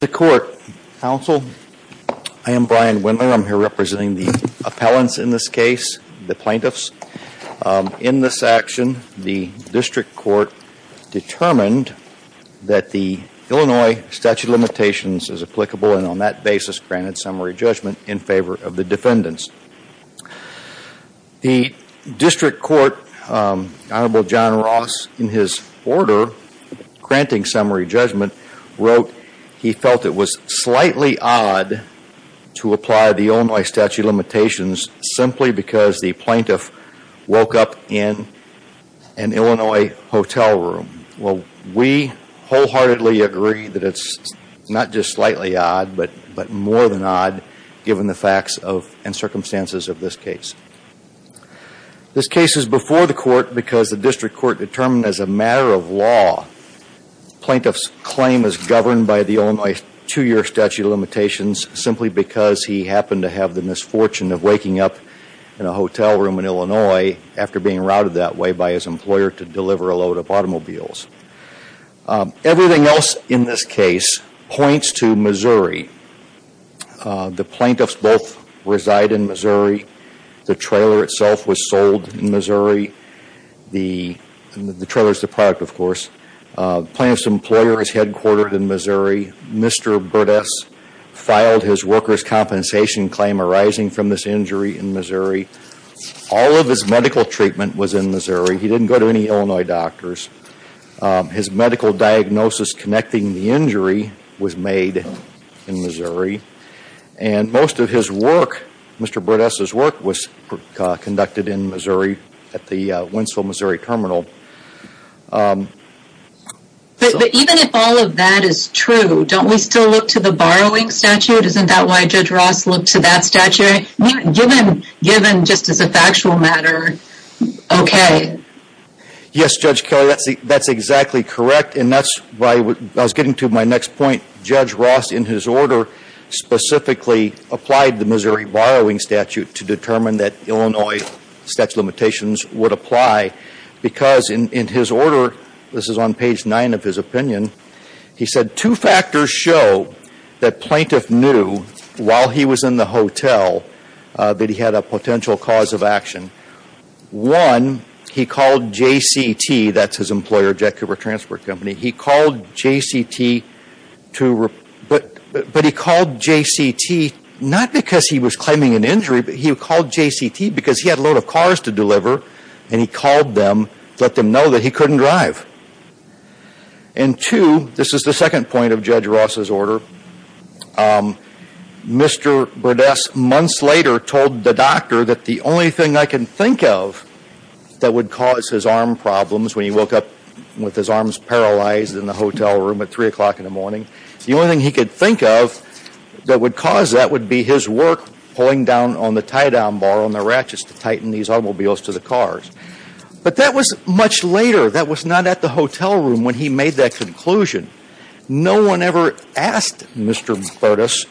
The Court, Counsel, I am Brian Wendler, I'm here representing the appellants in this case, the plaintiffs. In this action, the District Court determined that the Illinois statute of limitations is applicable and on that basis granted summary judgment in favor of the defendants. The District Court, Honorable John Ross, in his order granting summary judgment, wrote that he felt it was slightly odd to apply the Illinois statute of limitations simply because the plaintiff woke up in an Illinois hotel room. Well, we wholeheartedly agree that it's not just slightly odd, but more than odd given the facts and circumstances of this case. This case is before the Court because the District Court determined as a matter of law plaintiff's claim is governed by the Illinois two-year statute of limitations simply because he happened to have the misfortune of waking up in a hotel room in Illinois after being routed that way by his employer to deliver a load of automobiles. Everything else in this case points to Missouri. The plaintiffs both reside in Missouri. The trailer itself was sold in Missouri. The trailer is the product, of course. Plaintiff's employer is headquartered in Missouri. Mr. Burdess filed his worker's compensation claim arising from this injury in Missouri. All of his medical treatment was in Missouri. He didn't go to any Illinois doctors. His medical diagnosis connecting the injury was made in Missouri. And most of his work, Mr. Burdess' work, was conducted in Missouri at the Winslow, Missouri, Terminal. But even if all of that is true, don't we still look to the borrowing statute? Isn't that why Judge Ross looked to that statute? Given, just as a factual matter, okay. Yes, Judge Kelly, that's exactly correct. And that's why I was getting to my next point. Judge Ross, in his order, specifically applied the Missouri borrowing statute to determine that Illinois statute of limitations would apply because in his order, this is on page nine of his opinion, he said two factors show that plaintiff knew while he was in the hotel that he had a potential cause of action. One, he called JCT, that's his employer, Jet Cooper Transport Company. He called JCT to, but he called JCT not because he was claiming an injury, but he called JCT because he had a load of cars to deliver. And he called them, let them know that he couldn't drive. And two, this is the second point of Judge Ross' order. Mr. Burdess, months later, told the doctor that the only thing I can think of that would cause his arm problems when he woke up with his arms paralyzed in the hotel room at 3 o'clock in the morning. The only thing he could think of that would cause that would be his work pulling down on the tie down bar on the ratchets to tighten these automobiles to the cars. But that was much later, that was not at the hotel room when he made that conclusion. No one ever asked Mr. Burdess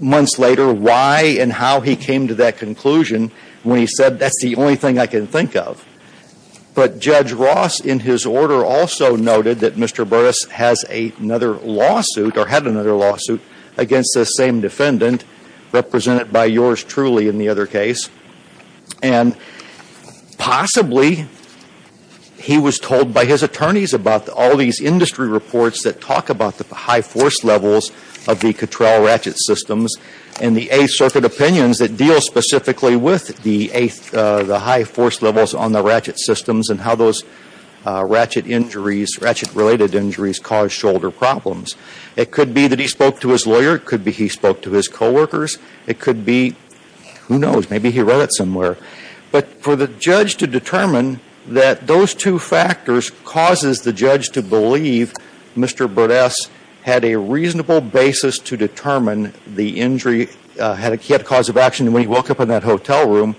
months later why and how he came to that conclusion when he said that's the only thing I can think of. But Judge Ross in his order also noted that Mr. Burdess has another lawsuit or had another lawsuit against the same defendant represented by yours truly in the other case. And possibly he was told by his attorneys about all these industry reports that talk about the high force levels of the control ratchet systems. And the A circuit opinions that deal specifically with the high force levels on the ratchet systems and how those ratchet related injuries cause shoulder problems. It could be that he spoke to his lawyer, it could be he spoke to his co-workers. It could be, who knows, maybe he wrote it somewhere. But for the judge to determine that those two factors causes the judge to believe Mr. Burdess had a reasonable basis to determine the injury. He had a cause of action when he woke up in that hotel room.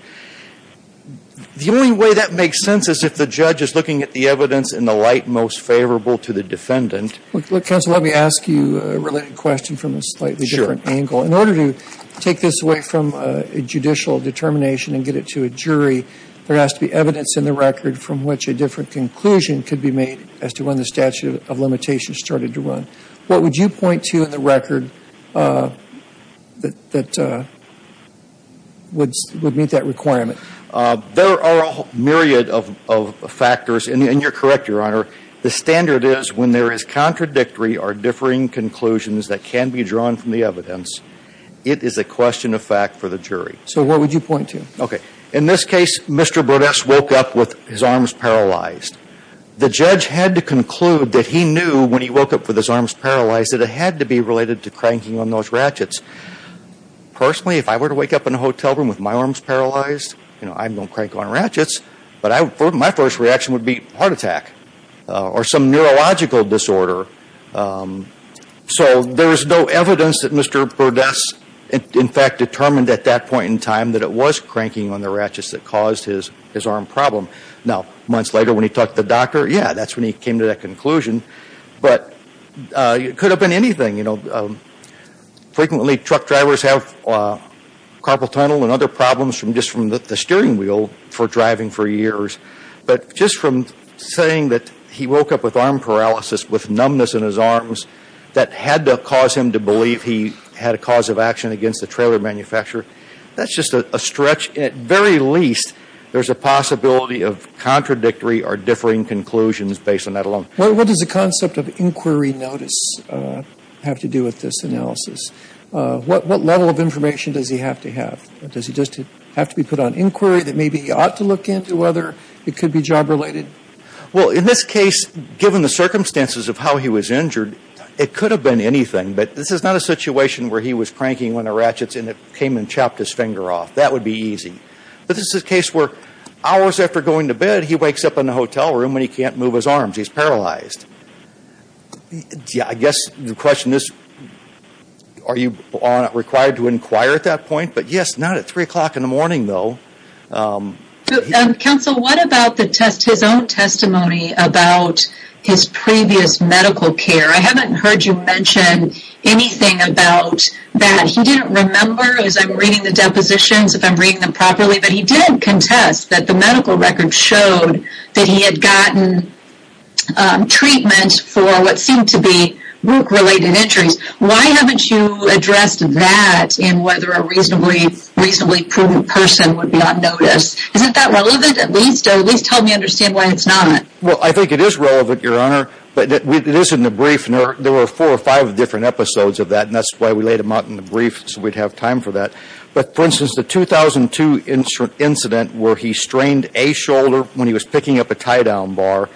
The only way that makes sense is if the judge is looking at the evidence in the light most favorable to the defendant. Look, counsel, let me ask you a related question from a slightly different angle. In order to take this away from a judicial determination and get it to a jury, there has to be evidence in the record from which a different conclusion could be made as to when the statute of limitations started to run. What would you point to in the record that would meet that requirement? There are a myriad of factors, and you're correct, your honor. The standard is when there is contradictory or differing conclusions that can be drawn from the evidence, it is a question of fact for the jury. So what would you point to? Okay, in this case, Mr. Burdess woke up with his arms paralyzed. The judge had to conclude that he knew when he woke up with his arms paralyzed that it had to be related to cranking on those ratchets. Personally, if I were to wake up in a hotel room with my arms paralyzed, I don't crank on ratchets. But my first reaction would be heart attack or some neurological disorder. So there's no evidence that Mr. Burdess, in fact, determined at that point in time that it was cranking on the ratchets that caused his arm problem. Now, months later when he talked to the doctor, yeah, that's when he came to that conclusion. But it could have been anything. You know, frequently truck drivers have carpal tunnel and other problems just from the steering wheel for driving for years. But just from saying that he woke up with arm paralysis, with numbness in his arms, that had to cause him to believe he had a cause of action against the trailer manufacturer, that's just a stretch. At very least, there's a possibility of contradictory or differing conclusions based on that alone. What does the concept of inquiry notice have to do with this analysis? What level of information does he have to have? Does he just have to be put on inquiry that maybe he ought to look into whether it could be job related? Well, in this case, given the circumstances of how he was injured, it could have been anything. But this is not a situation where he was cranking on the ratchets and it came and chopped his finger off. That would be easy. But this is a case where hours after going to bed, he wakes up in the hotel room and he can't move his arms. He's paralyzed. I guess the question is, are you required to inquire at that point? But yes, not at three o'clock in the morning, though. Counsel, what about the test, his own testimony about his previous medical care? I haven't heard you mention anything about that. He didn't remember, as I'm reading the depositions, if I'm reading them properly, but he didn't contest that the medical records showed that he had gotten treatment for what seemed to be group-related injuries. Why haven't you addressed that in whether a reasonably prudent person would be on notice? Isn't that relevant? At least help me understand why it's not. Well, I think it is relevant, Your Honor. But it is in the brief, and there were four or five different episodes of that. And that's why we laid them out in the brief so we'd have time for that. But for instance, the 2002 incident where he strained a shoulder when he was picking up a tie-down bar,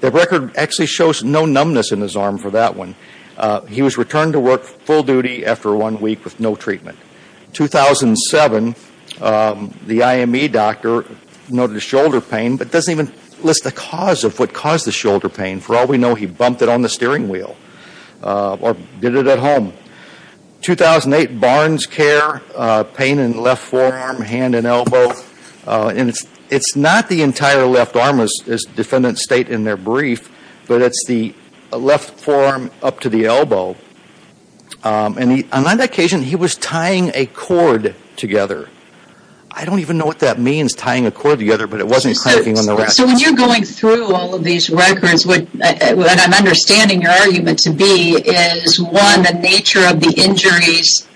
the record actually shows no numbness in his arm for that one. He was returned to work full duty after one week with no treatment. 2007, the IME doctor noted a shoulder pain but doesn't even list the cause of what caused the shoulder pain. For all we know, he bumped it on the steering wheel or did it at home. 2008, BarnesCare, pain in the left forearm, hand, and elbow. And it's not the entire left arm, as defendants state in their brief, but it's the left forearm up to the elbow. And on that occasion, he was tying a cord together. I don't even know what that means, tying a cord together, but it wasn't cranking on the rack. So when you're going through all of these records, what I'm understanding your argument to be is, one, the nature of the injuries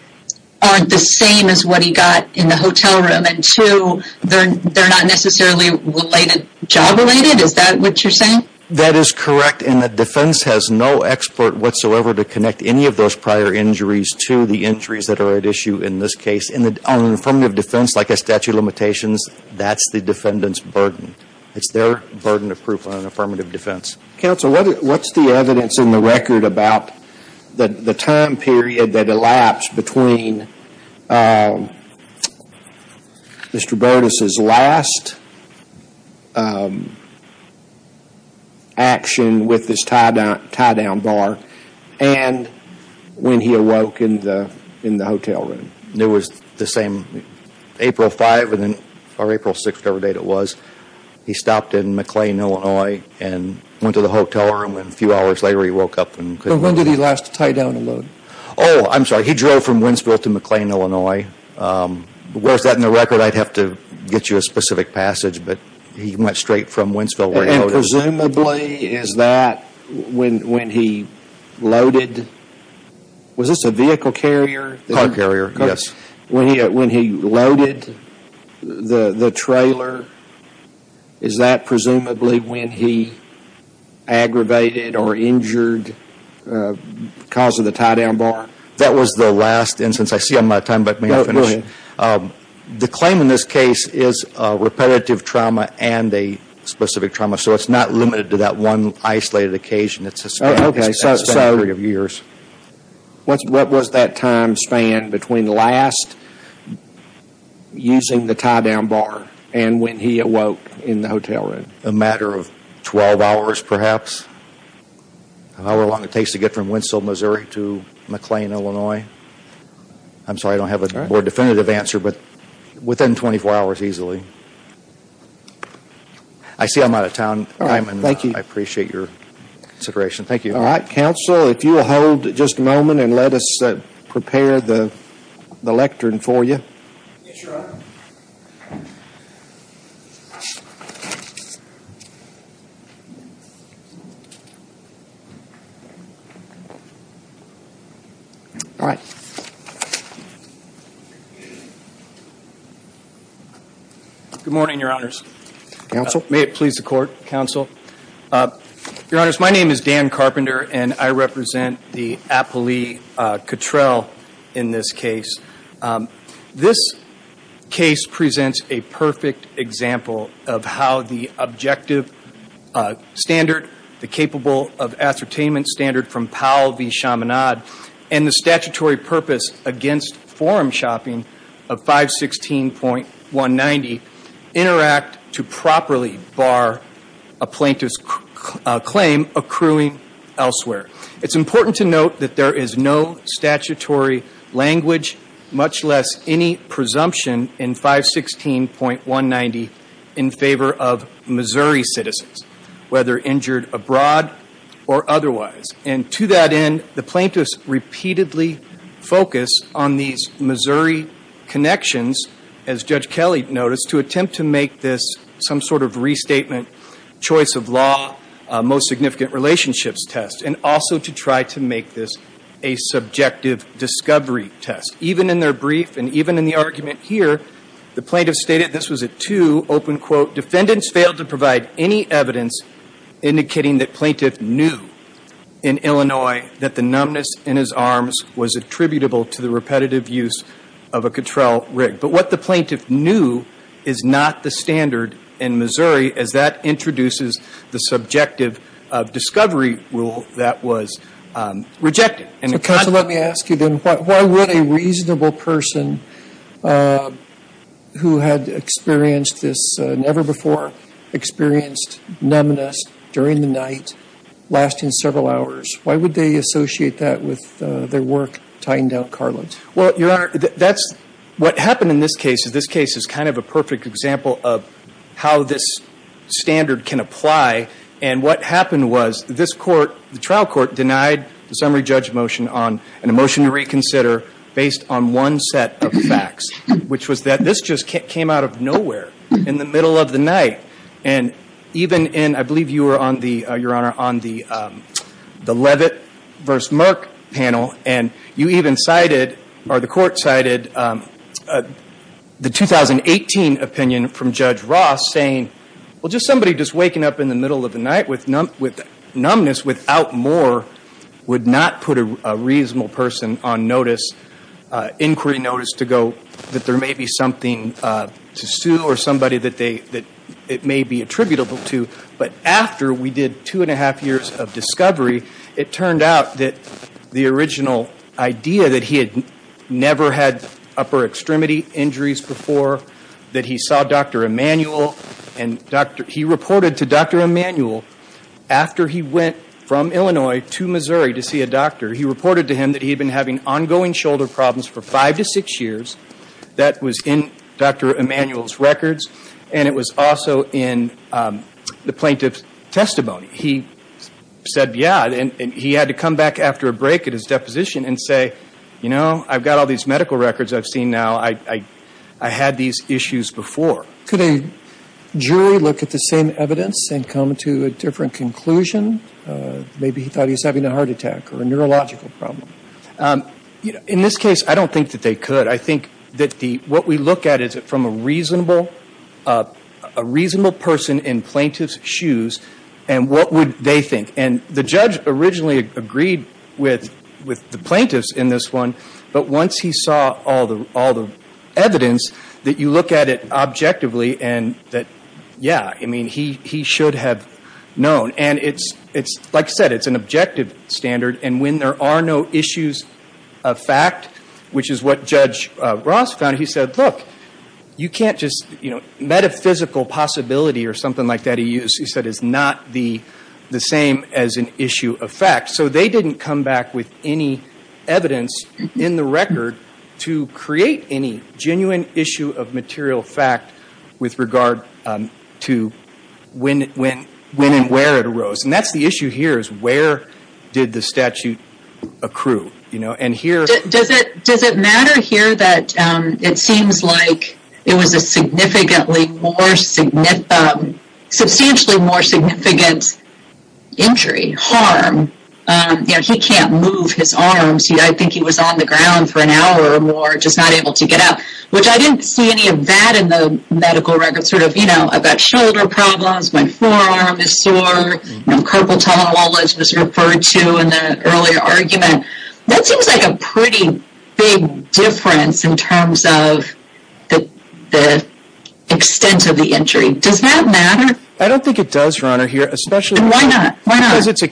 aren't the same as what he got in the hotel room, and two, they're not necessarily job-related, is that what you're saying? That is correct. And the defense has no expert whatsoever to connect any of those prior injuries to the injuries that are at issue in this case. And on an affirmative defense like a statute of limitations, that's the defendant's burden. It's their burden of proof on an affirmative defense. Counsel, what's the evidence in the record about the time period that elapsed between Mr. Bertus' last action with his tie-down bar and when he awoke in the hotel room? It was the same, April 5th or April 6th, whatever date it was, he stopped in McLean, Illinois, and went to the hotel room, and a few hours later he woke up and couldn't move. When did he last tie down and load? Oh, I'm sorry, he drove from Wentzville to McLean, Illinois. Where's that in the record? I'd have to get you a specific passage, but he went straight from Wentzville where he loaded. And presumably, is that when he loaded, was this a vehicle carrier? Car carrier. Yes. When he loaded the trailer, is that presumably when he aggravated or injured because of the tie-down bar? That was the last instance. I see I'm out of time, but may I finish? Go ahead. The claim in this case is a repetitive trauma and a specific trauma, so it's not limited to that one isolated occasion. It's a span of a period of years. What was that time span between the last using the tie-down bar and when he awoke in the hotel room? A matter of 12 hours, perhaps, an hour long it takes to get from Wentzville, Missouri, to McLean, Illinois. I'm sorry, I don't have a more definitive answer, but within 24 hours easily. I see I'm out of time, and I appreciate your consideration. Thank you. All right, counsel, if you will hold just a moment and let us prepare the lectern for you. Yes, Your Honor. All right. Good morning, Your Honors. Counsel. May it please the court, counsel. Your Honors, my name is Dan Carpenter, and I represent the Apolli Cattrell in this case. This case presents a perfect example of how the objective standard, the capable of ascertainment standard from Powell v. Chaminade, and the statutory purpose against forum shopping of 516.190 interact to properly bar a plaintiff's claim accruing elsewhere. It's important to note that there is no statutory language, much less any presumption in 516.190 in favor of Missouri citizens, whether injured abroad or otherwise. And to that end, the plaintiffs repeatedly focus on these Missouri connections, as Judge Kelly noticed, to attempt to make this some sort of restatement choice of law, most significant relationships test, and also to try to make this a subjective discovery test. Even in their brief, and even in the argument here, the plaintiff stated this was a two, open quote, defendants failed to provide any evidence indicating that plaintiff knew in Illinois that the numbness in his arms was attributable to the repetitive use of a Cattrell rig. But what the plaintiff knew is not the standard in Missouri, as that introduces the subjective discovery rule that was rejected. So counsel, let me ask you then, why would a reasonable person who had experienced this, never before experienced numbness during the night lasting several hours, why would they associate that with their work tying down Carlin? Well, Your Honor, that's, what happened in this case is this case is kind of a perfect example of how this standard can apply, and what happened was this court, the trial court denied the summary judge motion on a motion to reconsider based on one set of facts, which was that this just came out of nowhere in the middle of the night. And even in, I believe you were on the, Your Honor, on the Leavitt versus Merck panel, and you even cited, or the court cited the 2018 opinion from Judge Ross saying, well, just somebody just waking up in the middle of the night with numbness without more would not put a reasonable person on notice, inquiry notice to go, that there may be something to sue or somebody that they, that it may be attributable to. But after we did two and a half years of discovery, it turned out that the original idea that he had never had upper extremity injuries before, that he saw Dr. Emanuel, and he reported to Dr. Emanuel after he went from Illinois to Missouri to see a doctor. He reported to him that he had been having ongoing shoulder problems for five to six years. That was in Dr. Emanuel's records, and it was also in the plaintiff's testimony. He said, yeah, and he had to come back after a break at his deposition and say, you know, I've got all these medical records I've seen now, I had these issues before. Could a jury look at the same evidence and come to a different conclusion? Maybe he thought he was having a heart attack or a neurological problem. In this case, I don't think that they could. I think that the, what we look at is from a reasonable, a reasonable person in plaintiff's shoes, and what would they think? And the judge originally agreed with the plaintiffs in this one, but once he saw all the evidence, that you look at it objectively and that, yeah, I mean, he should have known. And it's, like I said, it's an objective standard, and when there are no issues of fact, which is what Judge Ross found, he said, look, you can't just, you know, as an issue of fact, so they didn't come back with any evidence in the record to create any genuine issue of material fact with regard to when and where it arose. And that's the issue here, is where did the statute accrue? You know, and here- You know, he can't move his arms. I think he was on the ground for an hour or more, just not able to get up, which I didn't see any of that in the medical record. Sort of, you know, I've got shoulder problems, my forearm is sore. You know, carpal tunnel wallage was referred to in the earlier argument. That seems like a pretty big difference in terms of the extent of the injury. Does that matter? I don't think it does, Your Honor, here. And why not? Why not? Because it's a,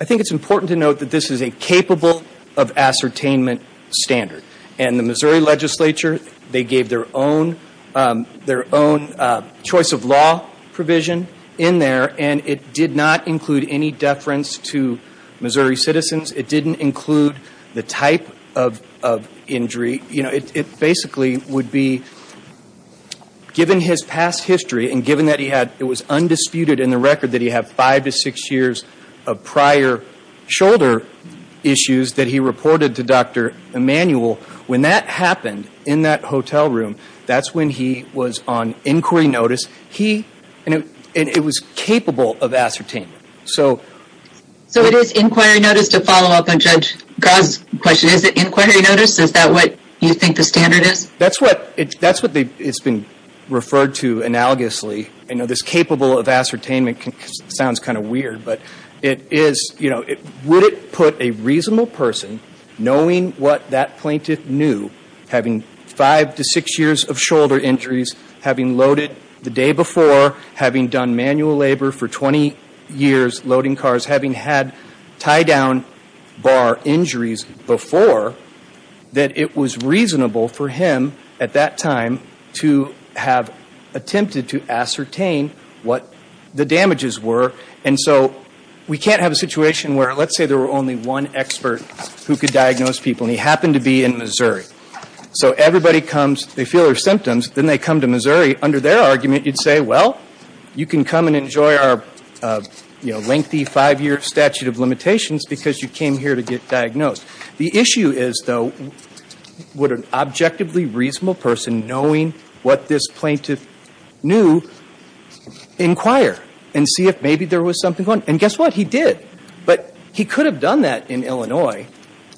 I think it's important to note that this is a capable of ascertainment standard. And the Missouri legislature, they gave their own choice of law provision in there, and it did not include any deference to Missouri citizens. It didn't include the type of injury. You know, it basically would be, given his past history and given that he had, was undisputed in the record that he had five to six years of prior shoulder issues that he reported to Dr. Emanuel, when that happened in that hotel room, that's when he was on inquiry notice. He, and it was capable of ascertainment. So. So it is inquiry notice to follow up on Judge Grah's question. Is it inquiry notice? Is that what you think the standard is? That's what, that's what it's been referred to analogously. I know this capable of ascertainment sounds kind of weird, but it is, you know, would it put a reasonable person, knowing what that plaintiff knew, having five to six years of shoulder injuries, having loaded the day before, having done manual labor for 20 years, loading cars, having had tie down bar injuries before, that it was reasonable for him at that time to have attempted to ascertain what the damages were. And so we can't have a situation where, let's say there were only one expert who could diagnose people, and he happened to be in Missouri. So everybody comes, they feel their symptoms, then they come to Missouri, under their argument you'd say, well, you can come and enjoy our, you know, lengthy five year statute of limitations because you came here to get diagnosed. The issue is, though, would an objectively reasonable person knowing what this plaintiff knew inquire and see if maybe there was something going on? And guess what? He did. But he could have done that in Illinois.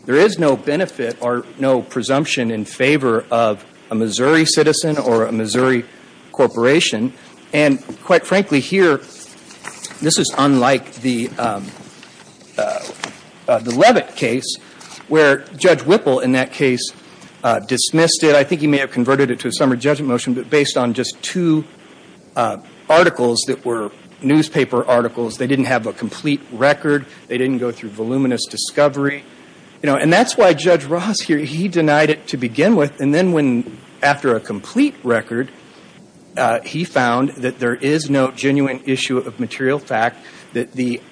There is no benefit or no presumption in favor of a Missouri citizen or a Missouri corporation. And quite frankly, here, this is unlike the Leavitt case where Judge Whipple in that case dismissed it. I think he may have converted it to a summary judgment motion, but based on just two articles that were newspaper articles, they didn't have a complete record, they didn't go through voluminous discovery, you know. And that's why Judge Ross here, he denied it to begin with, and then when, after a complete record, he found that there is no genuine issue of material fact, that the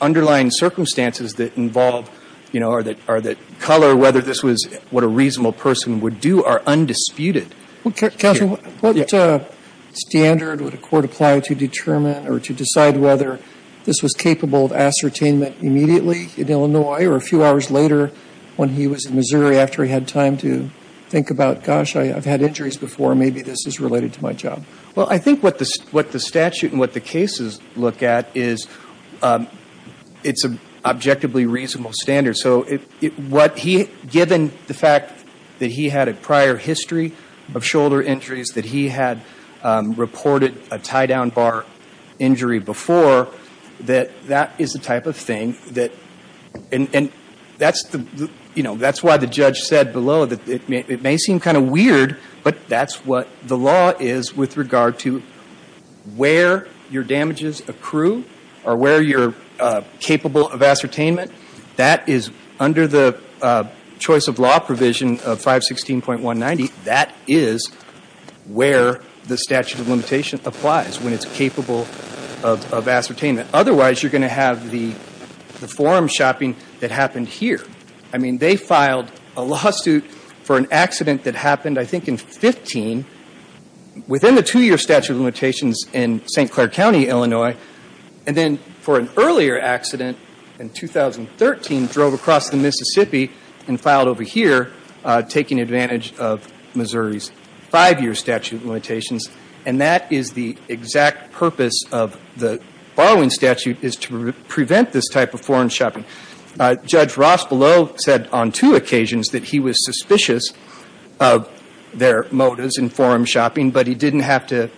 underlying circumstances that involve, you know, or that color whether this was what a reasonable person would do are undisputed. Well, counsel, what standard would a court apply to determine or to decide whether this was capable of ascertainment immediately in Illinois or a few hours later when he was in Missouri after he had time to think about, gosh, I've had injuries before, maybe this is related to my job? Well, I think what the statute and what the cases look at is it's an objectively reasonable standard. So what he, given the fact that he had a prior history of shoulder injuries, that he had reported a tie-down bar injury before, that that is the type of thing that, and that's the, you know, that's why the judge said below that it may seem kind of weird, but that's what the law is with regard to where your damages accrue or where you're capable of ascertainment. That is, under the choice of law provision of 516.190, that is where the statute of limitation applies, when it's capable of ascertainment. Otherwise, you're going to have the forum shopping that happened here. I mean, they filed a lawsuit for an accident that happened, I think, in 15, within the two-year statute of limitations in St. Clair County, Illinois, and then for an earlier accident in 2013, drove across the Mississippi and filed over here, taking advantage of the limitations, and that is the exact purpose of the borrowing statute, is to prevent this type of forum shopping. Judge Ross below said on two occasions that he was suspicious of their motives in forum shopping, but he didn't have to,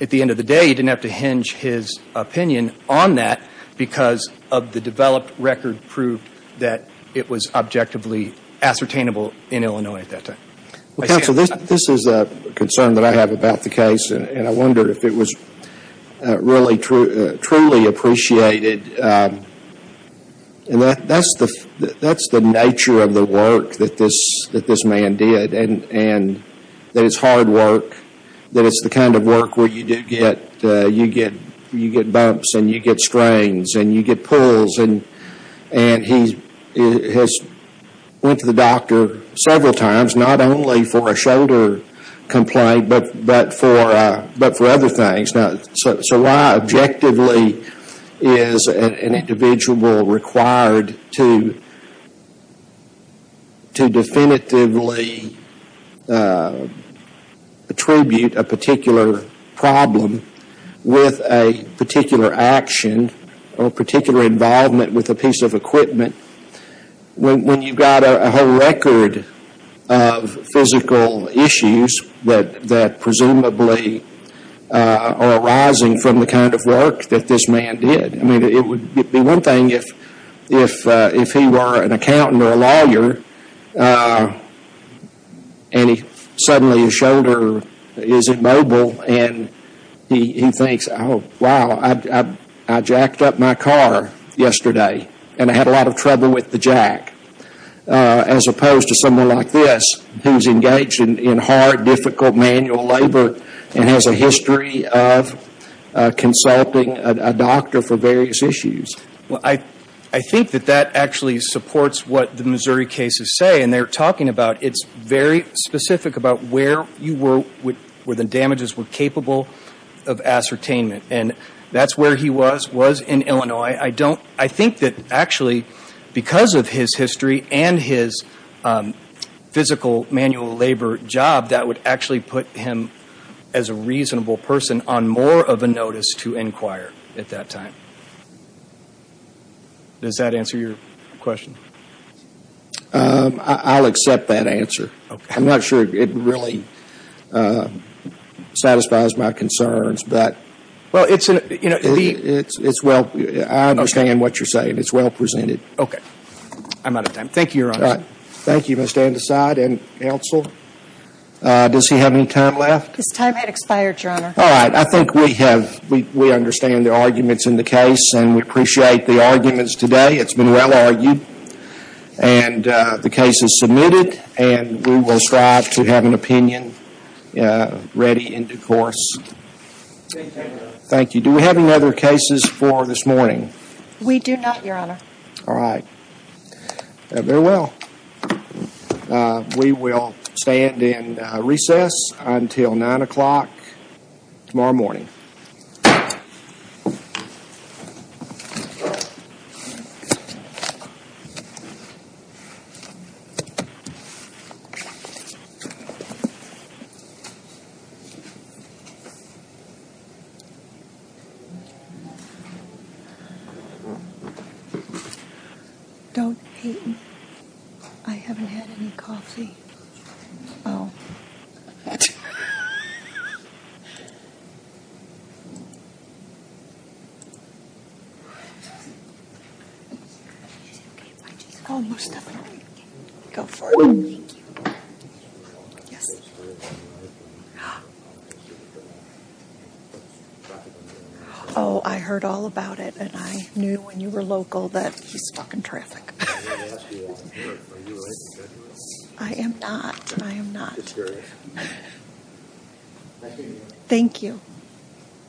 at the end of the day, he didn't have to hinge his opinion on that because of the developed record proved that it was objectively ascertainable in Illinois at that time. Counsel, this is a concern that I have about the case, and I wondered if it was really truly appreciated, and that's the nature of the work that this man did, and that it's hard work, that it's the kind of work where you do get, you get bumps and you get strains and you get pulls, and he has went to the doctor several times, not only for a shoulder complaint but for other things, so why, objectively, is an individual required to definitively attribute a particular problem with a particular action or particular involvement with a piece of equipment when you've got a whole record of physical issues that presumably are arising from the kind of work that this man did? I mean, it would be one thing if he were an accountant or a lawyer and he filed a case and suddenly his shoulder is immobile and he thinks, oh, wow, I jacked up my car yesterday and I had a lot of trouble with the jack, as opposed to someone like this who's engaged in hard, difficult manual labor and has a history of consulting a doctor for various issues. I think that that actually supports what the Missouri cases say, and they're talking about it's very specific about where the damages were capable of ascertainment, and that's where he was, was in Illinois. I think that actually because of his history and his physical manual labor job, that would actually put him as a reasonable person on more of a notice to inquire at that time. Does that answer your question? I'll accept that answer. I'm not sure it really satisfies my concerns, but it's well, I understand what you're saying. It's well presented. Okay. I'm out of time. Thank you, Your Honor. Thank you, Ms. Dandeside. And counsel, does he have any time left? His time had expired, Your Honor. All right. I think we have, we understand the arguments in the case and we appreciate the arguments today. It's been well argued and the case is submitted and we will strive to have an opinion ready in due course. Thank you. Do we have any other cases for this morning? We do not, Your Honor. All right. Very well. We will stand in recess until 9 o'clock tomorrow morning. Thank you. Don't hate me. I haven't had any coffee. Oh, I heard all about it and I knew when you were local that he's talking traffic. I am not. I am not. Thank you.